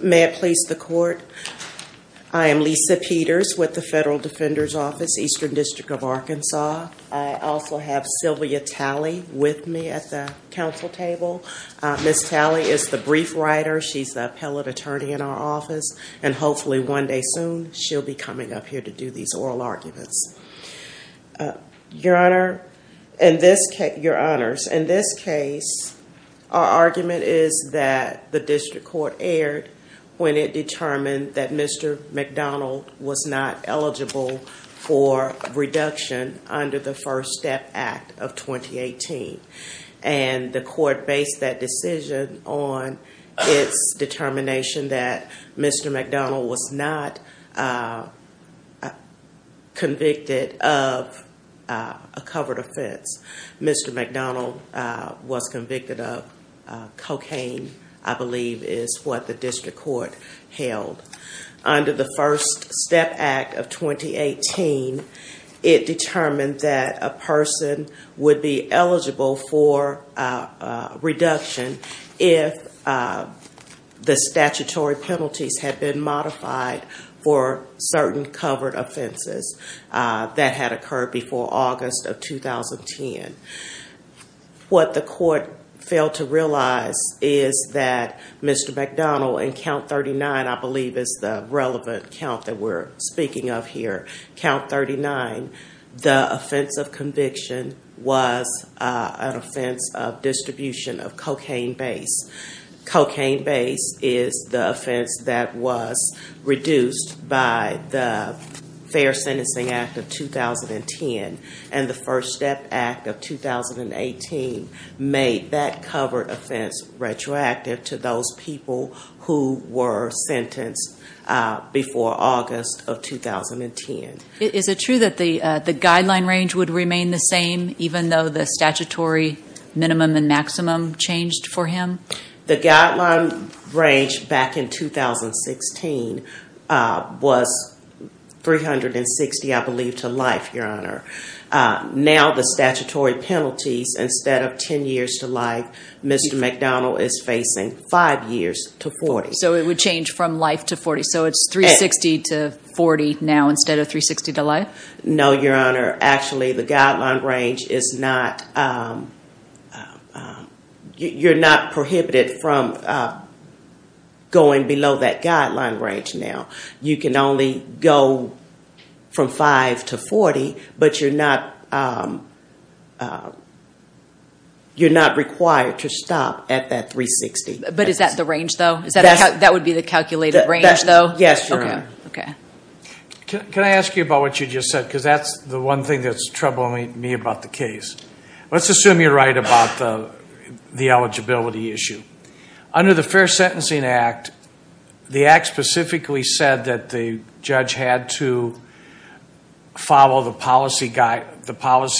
May it please the court, I am Lisa Peters with the Federal Defender's Office, Eastern District of Arkansas. I also have Sylvia Talley with me at the council table. Ms. Talley is the brief writer, she's the appellate attorney in our office, and hopefully one day soon she'll be coming up here to do these oral arguments. Your Honor, in this case, your honors, in this case, our argument is that the district court erred when it determined that Mr. McDonald was not eligible for reduction under the First Step Act of 2018. And the court based that decision on its determination that Mr. McDonald was not convicted of a covered offense. Mr. McDonald was convicted of cocaine, I believe is what the district court held. Under the First Step Act of 2018, it determined that a person would be eligible for reduction if the statutory penalties had been modified for certain covered offenses that had occurred before August of 2010. What the court failed to realize is that Mr. McDonald, in count 39, I believe is the relevant count that we're speaking of here, count 39, the offense of conviction was an offense of distribution of cocaine base. Cocaine base is the offense that was reduced by the Fair Sentencing Act of 2010, and the First Step Act of 2018 made that covered offense retroactive to those people who were sentenced before August of 2010. Is it true that the guideline range would remain the same even though the statutory minimum and maximum changed for him? The guideline range back in 2016 was 360, I believe, to life, your honor. Now the statutory penalties, instead of 10 years to life, Mr. McDonald is facing 5 years to 40. So it would change from life to 40. So it's 360 to 40 now instead of 360 to life? No, your honor. Actually, the guideline range is not, you're not prohibited from going below that guideline range now. You can only go from 5 to 40, but you're not required to stop at that 360. But is that the range, though? That would be the calculated range, though? Yes, your honor. Can I ask you about what you just said? Because that's the one thing that's troubling me about the case. Let's assume you're right about the eligibility issue. Under the Fair Sentencing Act, the Act specifically said that the judge had to follow the policy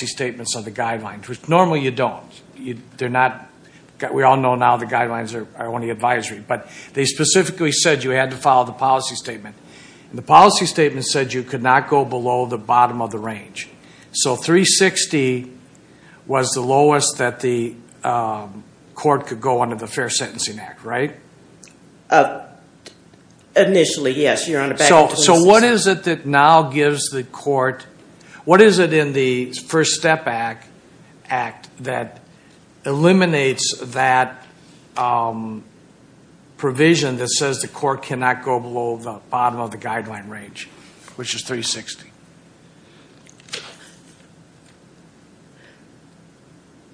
statements of the guidelines, which normally you don't. We all know now the guidelines are only advisory. But they specifically said you had to follow the policy statement. The policy statement said you could not go below the bottom of the range. So 360 was the lowest that the court could go under the Fair Sentencing Act, right? Initially, yes, your honor. So what is it that now gives the court, what is it in the First Step Act that eliminates that provision that says the court cannot go below the bottom of the guideline range, which is 360?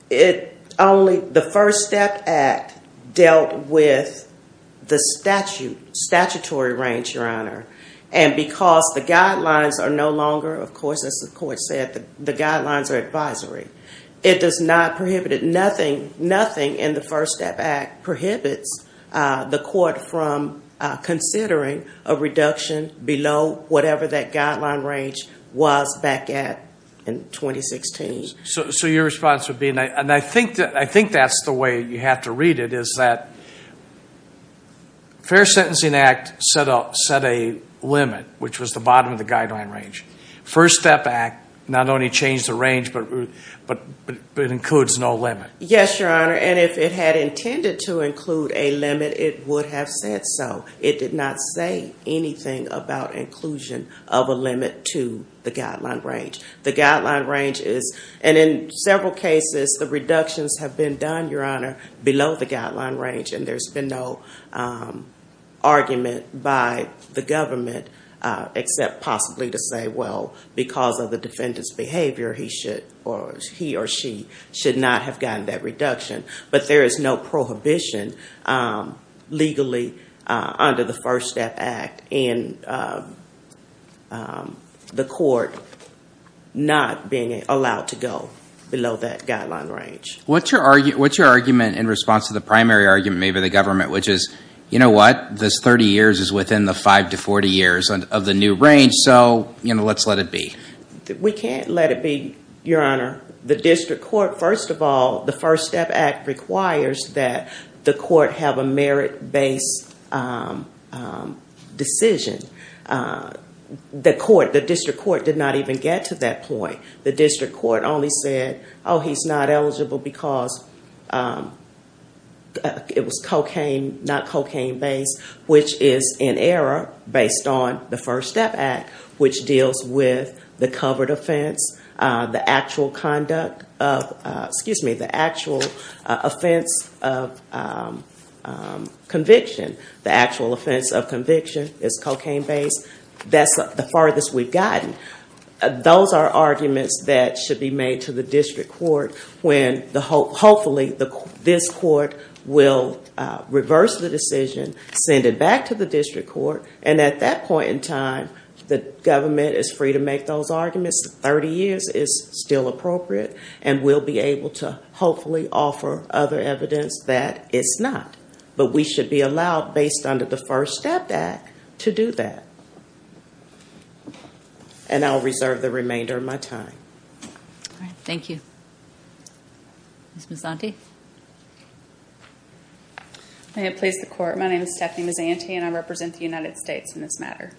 The First Step Act dealt with the statutory range, your honor. And because the guidelines are no longer, of course, as the court said, the guidelines are advisory, it does not prohibit it. So your response would be, and I think that's the way you have to read it, is that Fair Sentencing Act set a limit, which was the bottom of the guideline range. First Step Act not only changed the range, but it includes no limit. Yes, your honor. And if it had intended to include a limit, it would have said so. It did not say anything about inclusion of a limit to the guideline range. The guideline range is, and in several cases, the reductions have been done, your honor, below the guideline range. And there's been no argument by the government except possibly to say, well, because of the defendant's behavior, he or she should not have gotten that reduction. But there is no prohibition legally under the First Step Act in the court not being allowed to go below that guideline range. What's your argument in response to the primary argument made by the government, which is, you know what? This 30 years is within the 5 to 40 years of the new range, so let's let it be. We can't let it be, your honor. The district court, first of all, the First Step Act requires that the court have a merit-based decision. The district court did not even get to that point. The district court only said, oh, he's not eligible because it was cocaine, not cocaine-based, which is an error based on the First Step Act, which deals with the covered offense, the actual conduct of, excuse me, the actual offense of conviction. The actual offense of conviction is cocaine-based. That's the farthest we've gotten. Those are arguments that should be made to the district court when, hopefully, this court will reverse the decision, send it back to the district court, and at that point in time, the government is free to make those arguments. The 30 years is still appropriate, and we'll be able to hopefully offer other evidence that it's not. But we should be allowed, based on the First Step Act, to do that. And I'll reserve the remainder of my time. Thank you. Ms. Mazzanti. May it please the court, my name is Stephanie Mazzanti, and I represent the United States in this matter.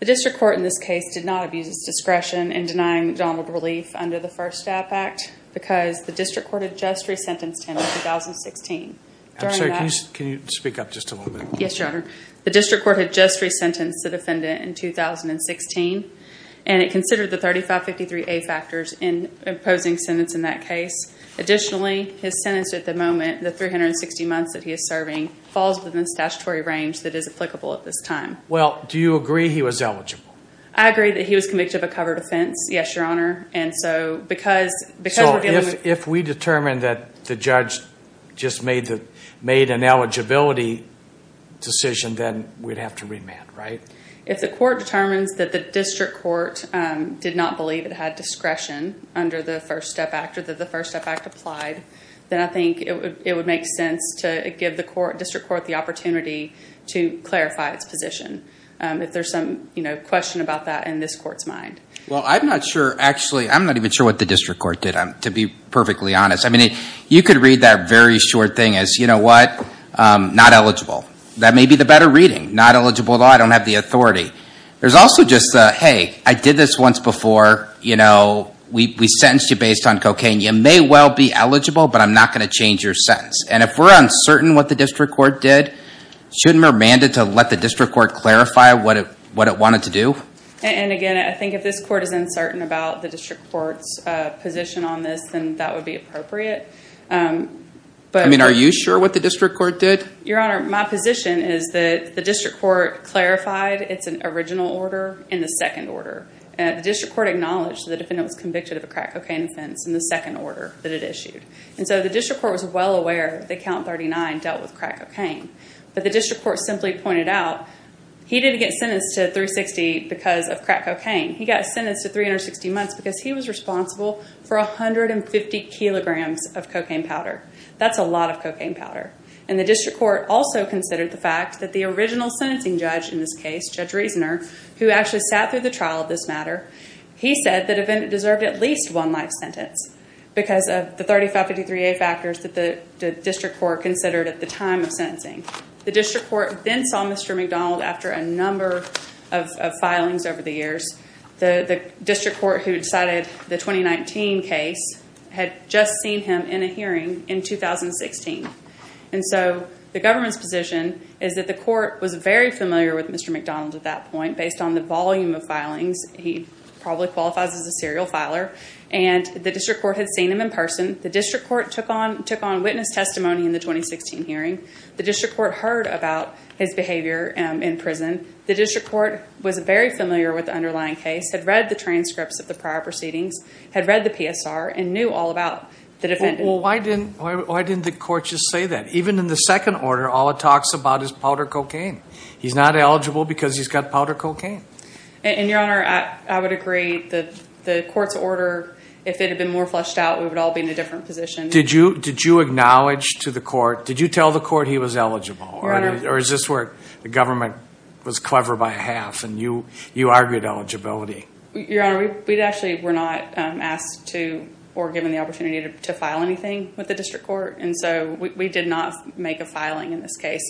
The district court in this case did not abuse its discretion in denying McDonald relief under the First Step Act because the district court had just resentenced him in 2016. I'm sorry, can you speak up just a little bit? Yes, Your Honor. The district court had just resentenced the defendant in 2016, and it considered the 3553A factors in imposing sentence in that case. Additionally, his sentence at the moment, the 360 months that he is serving, falls within the statutory range that is applicable at this time. Well, do you agree he was eligible? I agree that he was convicted of a covered offense, yes, Your Honor. So if we determine that the judge just made an eligibility decision, then we'd have to remand, right? If the court determines that the district court did not believe it had discretion under the First Step Act or that the First Step Act applied, then I think it would make sense to give the district court the opportunity to clarify its position, if there's some question about that in this court's mind. Well, I'm not sure, actually, I'm not even sure what the district court did, to be perfectly honest. I mean, you could read that very short thing as, you know what, not eligible. That may be the better reading. Not eligible, I don't have the authority. There's also just the, hey, I did this once before, you know, we sentenced you based on cocaine. You may well be eligible, but I'm not going to change your sentence. And if we're uncertain what the district court did, shouldn't we remand it to let the district court clarify what it wanted to do? And, again, I think if this court is uncertain about the district court's position on this, then that would be appropriate. I mean, are you sure what the district court did? Your Honor, my position is that the district court clarified its original order in the second order. The district court acknowledged that the defendant was convicted of a crack cocaine offense in the second order that it issued. And so the district court was well aware that Count 39 dealt with crack cocaine. But the district court simply pointed out, he didn't get sentenced to 360 because of crack cocaine. He got sentenced to 360 months because he was responsible for 150 kilograms of cocaine powder. That's a lot of cocaine powder. And the district court also considered the fact that the original sentencing judge in this case, Judge Reasoner, who actually sat through the trial of this matter, he said that the defendant deserved at least one life sentence because of the 3553A factors that the district court considered at the time of sentencing. The district court then saw Mr. McDonald after a number of filings over the years. The district court who decided the 2019 case had just seen him in a hearing in 2016. And so the government's position is that the court was very familiar with Mr. McDonald at that point. Based on the volume of filings, he probably qualifies as a serial filer. And the district court had seen him in person. The district court took on witness testimony in the 2016 hearing. The district court heard about his behavior in prison. The district court was very familiar with the underlying case, had read the transcripts of the prior proceedings, had read the PSR, and knew all about the defendant. Well, why didn't the court just say that? Even in the second order, all it talks about is powder cocaine. He's not eligible because he's got powder cocaine. And, Your Honor, I would agree. The court's order, if it had been more fleshed out, we would all be in a different position. Did you acknowledge to the court, did you tell the court he was eligible? Or is this where the government was clever by half and you argued eligibility? Your Honor, we actually were not asked to or given the opportunity to file anything with the district court. And so we did not make a filing in this case.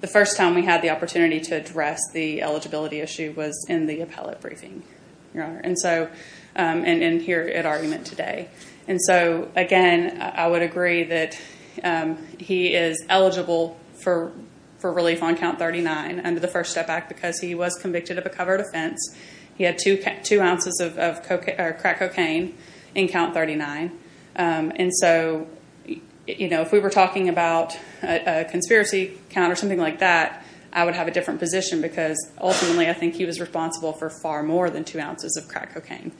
The first time we had the opportunity to address the eligibility issue was in the appellate briefing, Your Honor, and here at argument today. And so, again, I would agree that he is eligible for relief on count 39 under the First Step Act because he was convicted of a covered offense. He had two ounces of crack cocaine in count 39. And so, you know, if we were talking about a conspiracy count or something like that, I would have a different position because, ultimately, I think he was responsible for far more than two ounces of crack cocaine.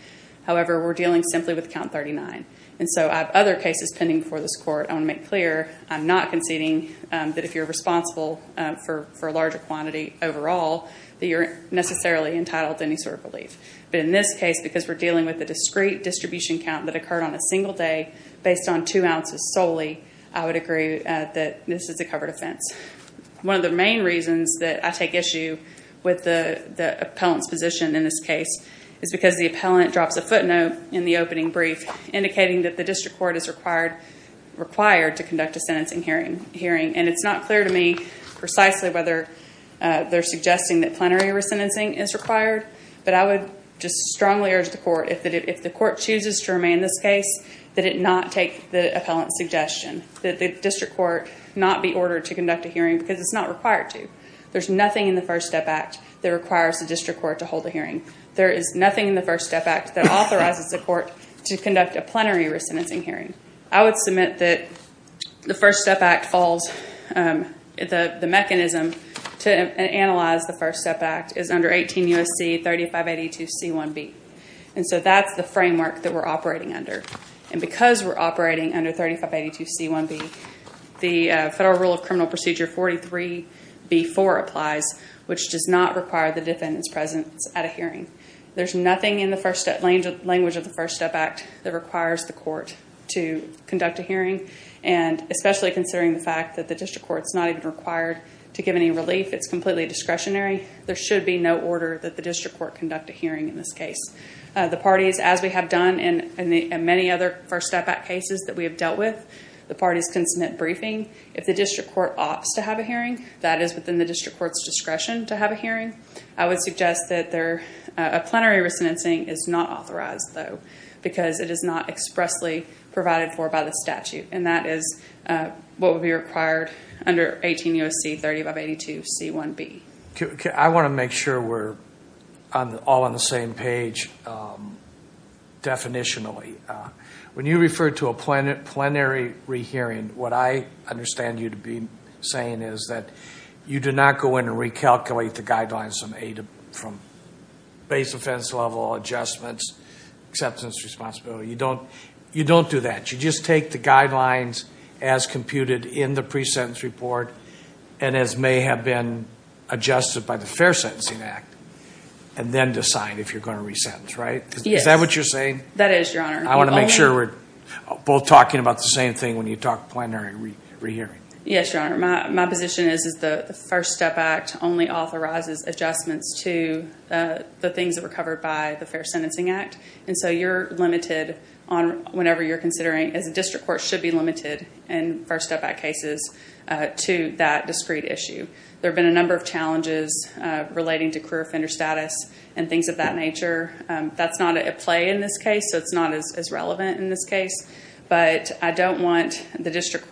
However, we're dealing simply with count 39. And so I have other cases pending before this court. I want to make clear I'm not conceding that if you're responsible for a larger quantity overall, that you're necessarily entitled to any sort of relief. But in this case, because we're dealing with a discrete distribution count that occurred on a single day based on two ounces solely, I would agree that this is a covered offense. One of the main reasons that I take issue with the appellant's position in this case is because the appellant drops a footnote in the opening brief indicating that the district court is required to conduct a sentencing hearing. And it's not clear to me precisely whether they're suggesting that plenary resentencing is required, but I would just strongly urge the court, if the court chooses to remain in this case, that it not take the appellant's suggestion that the district court not be ordered to conduct a hearing because it's not required to. There's nothing in the First Step Act that requires the district court to hold a hearing. There is nothing in the First Step Act that authorizes the court to conduct a plenary resentencing hearing. I would submit that the mechanism to analyze the First Step Act is under 18 U.S.C. 3582c1b. And so that's the framework that we're operating under. And because we're operating under 3582c1b, the Federal Rule of Criminal Procedure 43b4 applies, which does not require the defendant's presence at a hearing. There's nothing in the language of the First Step Act that requires the court to conduct a hearing, and especially considering the fact that the district court's not even required to give any relief. It's completely discretionary. There should be no order that the district court conduct a hearing in this case. The parties, as we have done in many other First Step Act cases that we have dealt with, the parties can submit briefing. If the district court opts to have a hearing, that is within the district court's discretion to have a hearing. I would suggest that a plenary resentencing is not authorized, though, because it is not expressly provided for by the statute, and that is what would be required under 18 U.S.C. 3582c1b. I want to make sure we're all on the same page definitionally. When you refer to a plenary rehearing, what I understand you to be saying is that you do not go in and recalculate the guidelines from base offense level, adjustments, acceptance, responsibility. You don't do that. You just take the guidelines as computed in the presentence report and as may have been adjusted by the Fair Sentencing Act, and then decide if you're going to resentence, right? Yes. Is that what you're saying? That is, Your Honor. I want to make sure we're both talking about the same thing when you talk plenary rehearing. Yes, Your Honor. My position is that the First Step Act only authorizes adjustments to the things that were covered by the Fair Sentencing Act, and so you're limited on whatever you're considering, as a district court should be limited in First Step Act cases to that discrete issue. There have been a number of challenges relating to career offender status and things of that nature. That's not at play in this case, so it's not as relevant in this case, but I don't want the district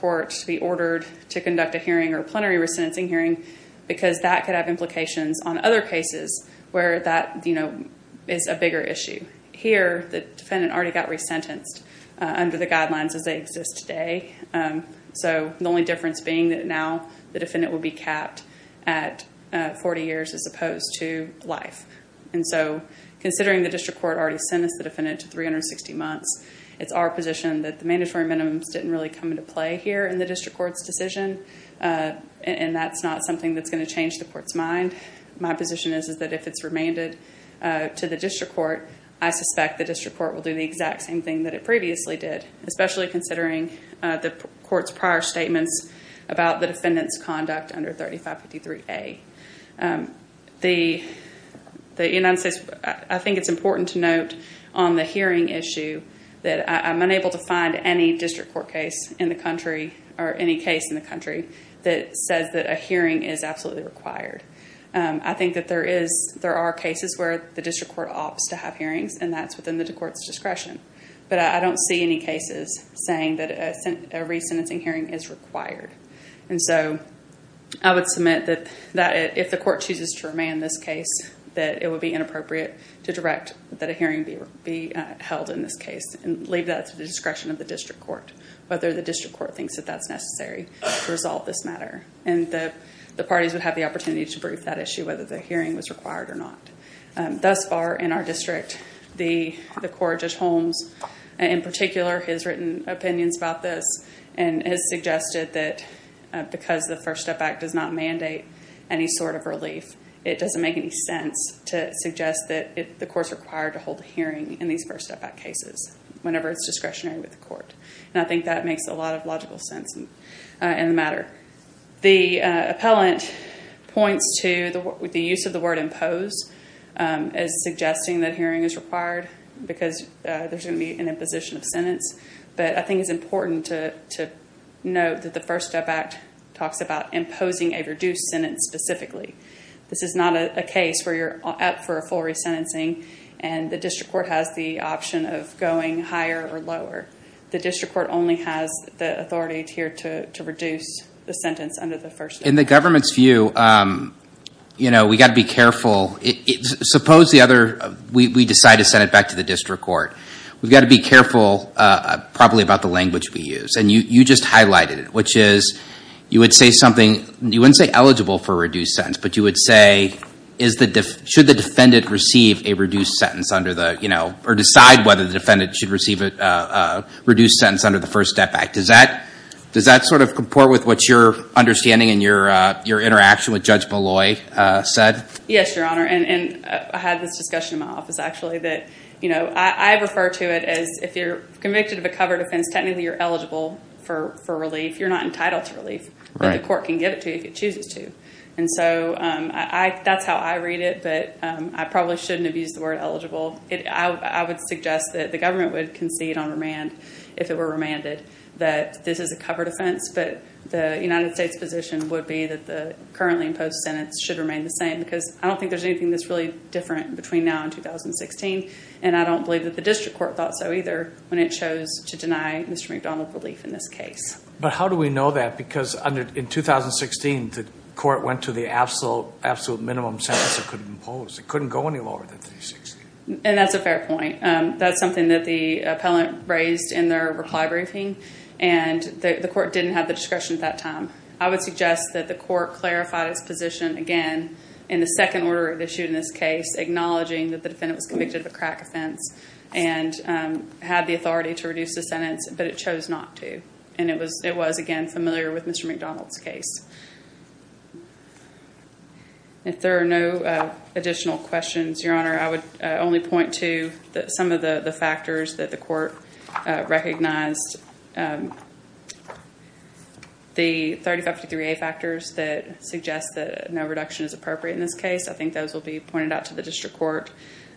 court to be ordered to conduct a hearing or plenary resentencing hearing because that could have implications on other cases where that is a bigger issue. Here, the defendant already got resentenced under the guidelines as they exist today, so the only difference being that now the defendant would be capped at 40 years as opposed to life. And so considering the district court already sentenced the defendant to 360 months, it's our position that the mandatory minimums didn't really come into play here in the district court's decision, and that's not something that's going to change the court's mind. My position is that if it's remanded to the district court, I suspect the district court will do the exact same thing that it previously did, especially considering the court's prior statements about the defendant's conduct under 3553A. I think it's important to note on the hearing issue that I'm unable to find any district court case in the country or any case in the country that says that a hearing is absolutely required. I think that there are cases where the district court opts to have hearings, and that's within the court's discretion. But I don't see any cases saying that a resentencing hearing is required. And so I would submit that if the court chooses to remand this case, that it would be inappropriate to direct that a hearing be held in this case and leave that to the discretion of the district court, whether the district court thinks that that's necessary to resolve this matter. And the parties would have the opportunity to brief that issue, whether the hearing was required or not. Thus far in our district, the court at Holmes, in particular, has written opinions about this and has suggested that because the First Step Act does not mandate any sort of relief, it doesn't make any sense to suggest that the court's required to hold a hearing in these First Step Act cases whenever it's discretionary with the court. And I think that makes a lot of logical sense in the matter. The appellant points to the use of the word impose as suggesting that a hearing is required because there's going to be an imposition of sentence. But I think it's important to note that the First Step Act talks about imposing a reduced sentence specifically. This is not a case where you're up for a full resentencing and the district court has the option of going higher or lower. The district court only has the authority here to reduce the sentence under the First Step Act. In the government's view, we've got to be careful. Suppose we decide to send it back to the district court. We've got to be careful probably about the language we use. And you just highlighted it, which is you would say something. You wouldn't say eligible for a reduced sentence, but you would say should the defendant receive a reduced sentence or decide whether the defendant should receive a reduced sentence under the First Step Act. Does that sort of comport with what you're understanding in your interaction with Judge Molloy said? Yes, Your Honor, and I had this discussion in my office, actually, that I refer to it as if you're convicted of a covered offense, technically you're eligible for relief. You're not entitled to relief, but the court can give it to you if it chooses to. And so that's how I read it, but I probably shouldn't have used the word eligible. I would suggest that the government would concede on remand if it were remanded that this is a covered offense, but the United States position would be that the currently imposed sentence should remain the same because I don't think there's anything that's really different between now and 2016, and I don't believe that the district court thought so either when it chose to deny Mr. McDonald relief in this case. But how do we know that? Because in 2016, the court went to the absolute minimum sentence it could impose. It couldn't go any lower than 360. And that's a fair point. That's something that the appellant raised in their reply briefing, and the court didn't have the discretion at that time. I would suggest that the court clarified its position again in the second order issued in this case, acknowledging that the defendant was convicted of a crack offense and had the authority to reduce the sentence, but it chose not to, and it was, again, familiar with Mr. McDonald's case. If there are no additional questions, Your Honor, I would only point to some of the factors that the court recognized. The 3053A factors that suggest that no reduction is appropriate in this case, I think those will be pointed out to the district court.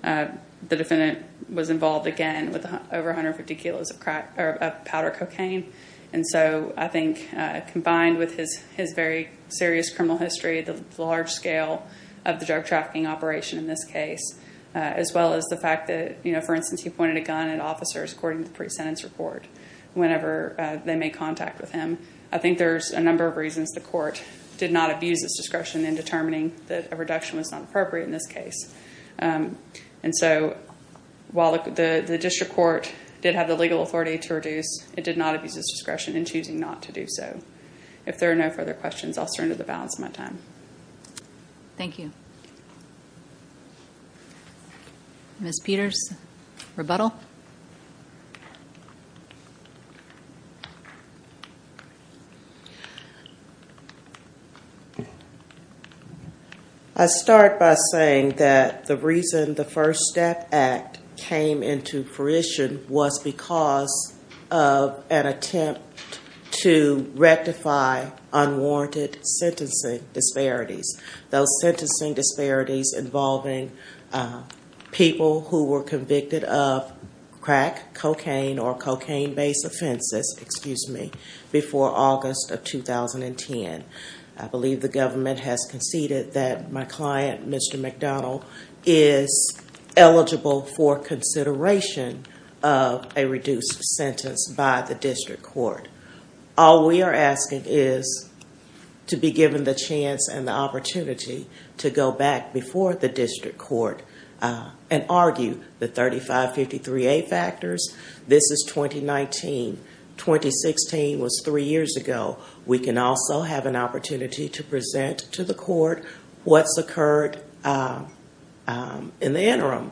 The defendant was involved, again, with over 150 kilos of powder cocaine. And so I think combined with his very serious criminal history, the large scale of the drug trafficking operation in this case, as well as the fact that, you know, for instance, he pointed a gun at officers according to the pre-sentence report whenever they made contact with him. I think there's a number of reasons the court did not abuse its discretion in determining that a reduction was not appropriate in this case. And so while the district court did have the legal authority to reduce, it did not abuse its discretion in choosing not to do so. If there are no further questions, I'll surrender the balance of my time. Thank you. Ms. Peters, rebuttal. I start by saying that the reason the First Step Act came into fruition was because of an attempt to rectify unwarranted sentencing disparities. Those sentencing disparities involving people who were convicted of crack, cocaine, or cocaine-based offenses, excuse me, before August of 2010. I believe the government has conceded that my client, Mr. McDonnell, is eligible for consideration of a reduced sentence by the district court. All we are asking is to be given the chance and the opportunity to go back before the district court and argue the 3553A factors. This is 2019. 2016 was three years ago. We can also have an opportunity to present to the court what's occurred in the interim.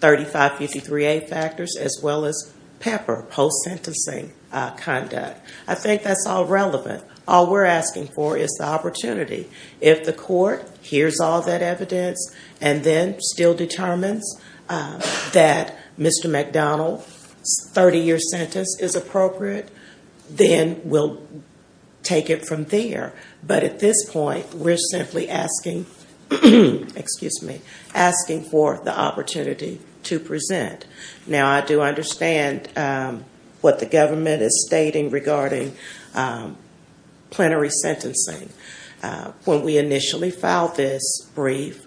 3553A factors as well as PEPR, post-sentencing conduct. I think that's all relevant. All we're asking for is the opportunity. If the court hears all that evidence and then still determines that Mr. McDonnell's 30-year sentence is appropriate, then we'll take it from there. But at this point, we're simply asking for the opportunity to present. Now, I do understand what the government is stating regarding plenary sentencing. When we initially filed this brief,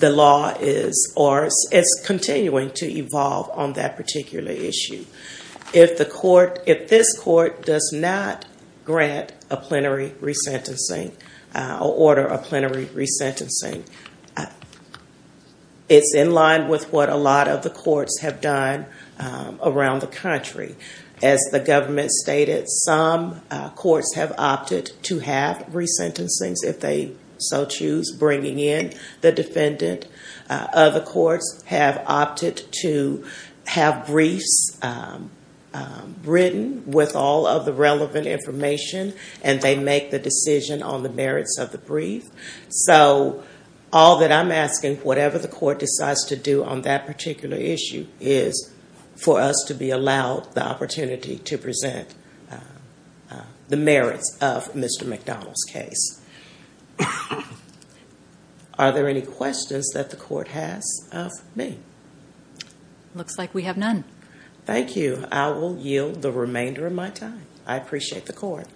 it's continuing to evolve on that particular issue. If this court does not grant a plenary resentencing or order a plenary resentencing, it's in line with what a lot of the courts have done around the country. As the government stated, some courts have opted to have resentencings if they so choose, bringing in the defendant. Other courts have opted to have briefs written with all of the relevant information, and they make the decision on the merits of the brief. So all that I'm asking, whatever the court decides to do on that particular issue, is for us to be allowed the opportunity to present the merits of Mr. McDonnell's case. Are there any questions that the court has of me? Looks like we have none. Thank you. I will yield the remainder of my time. I appreciate the court.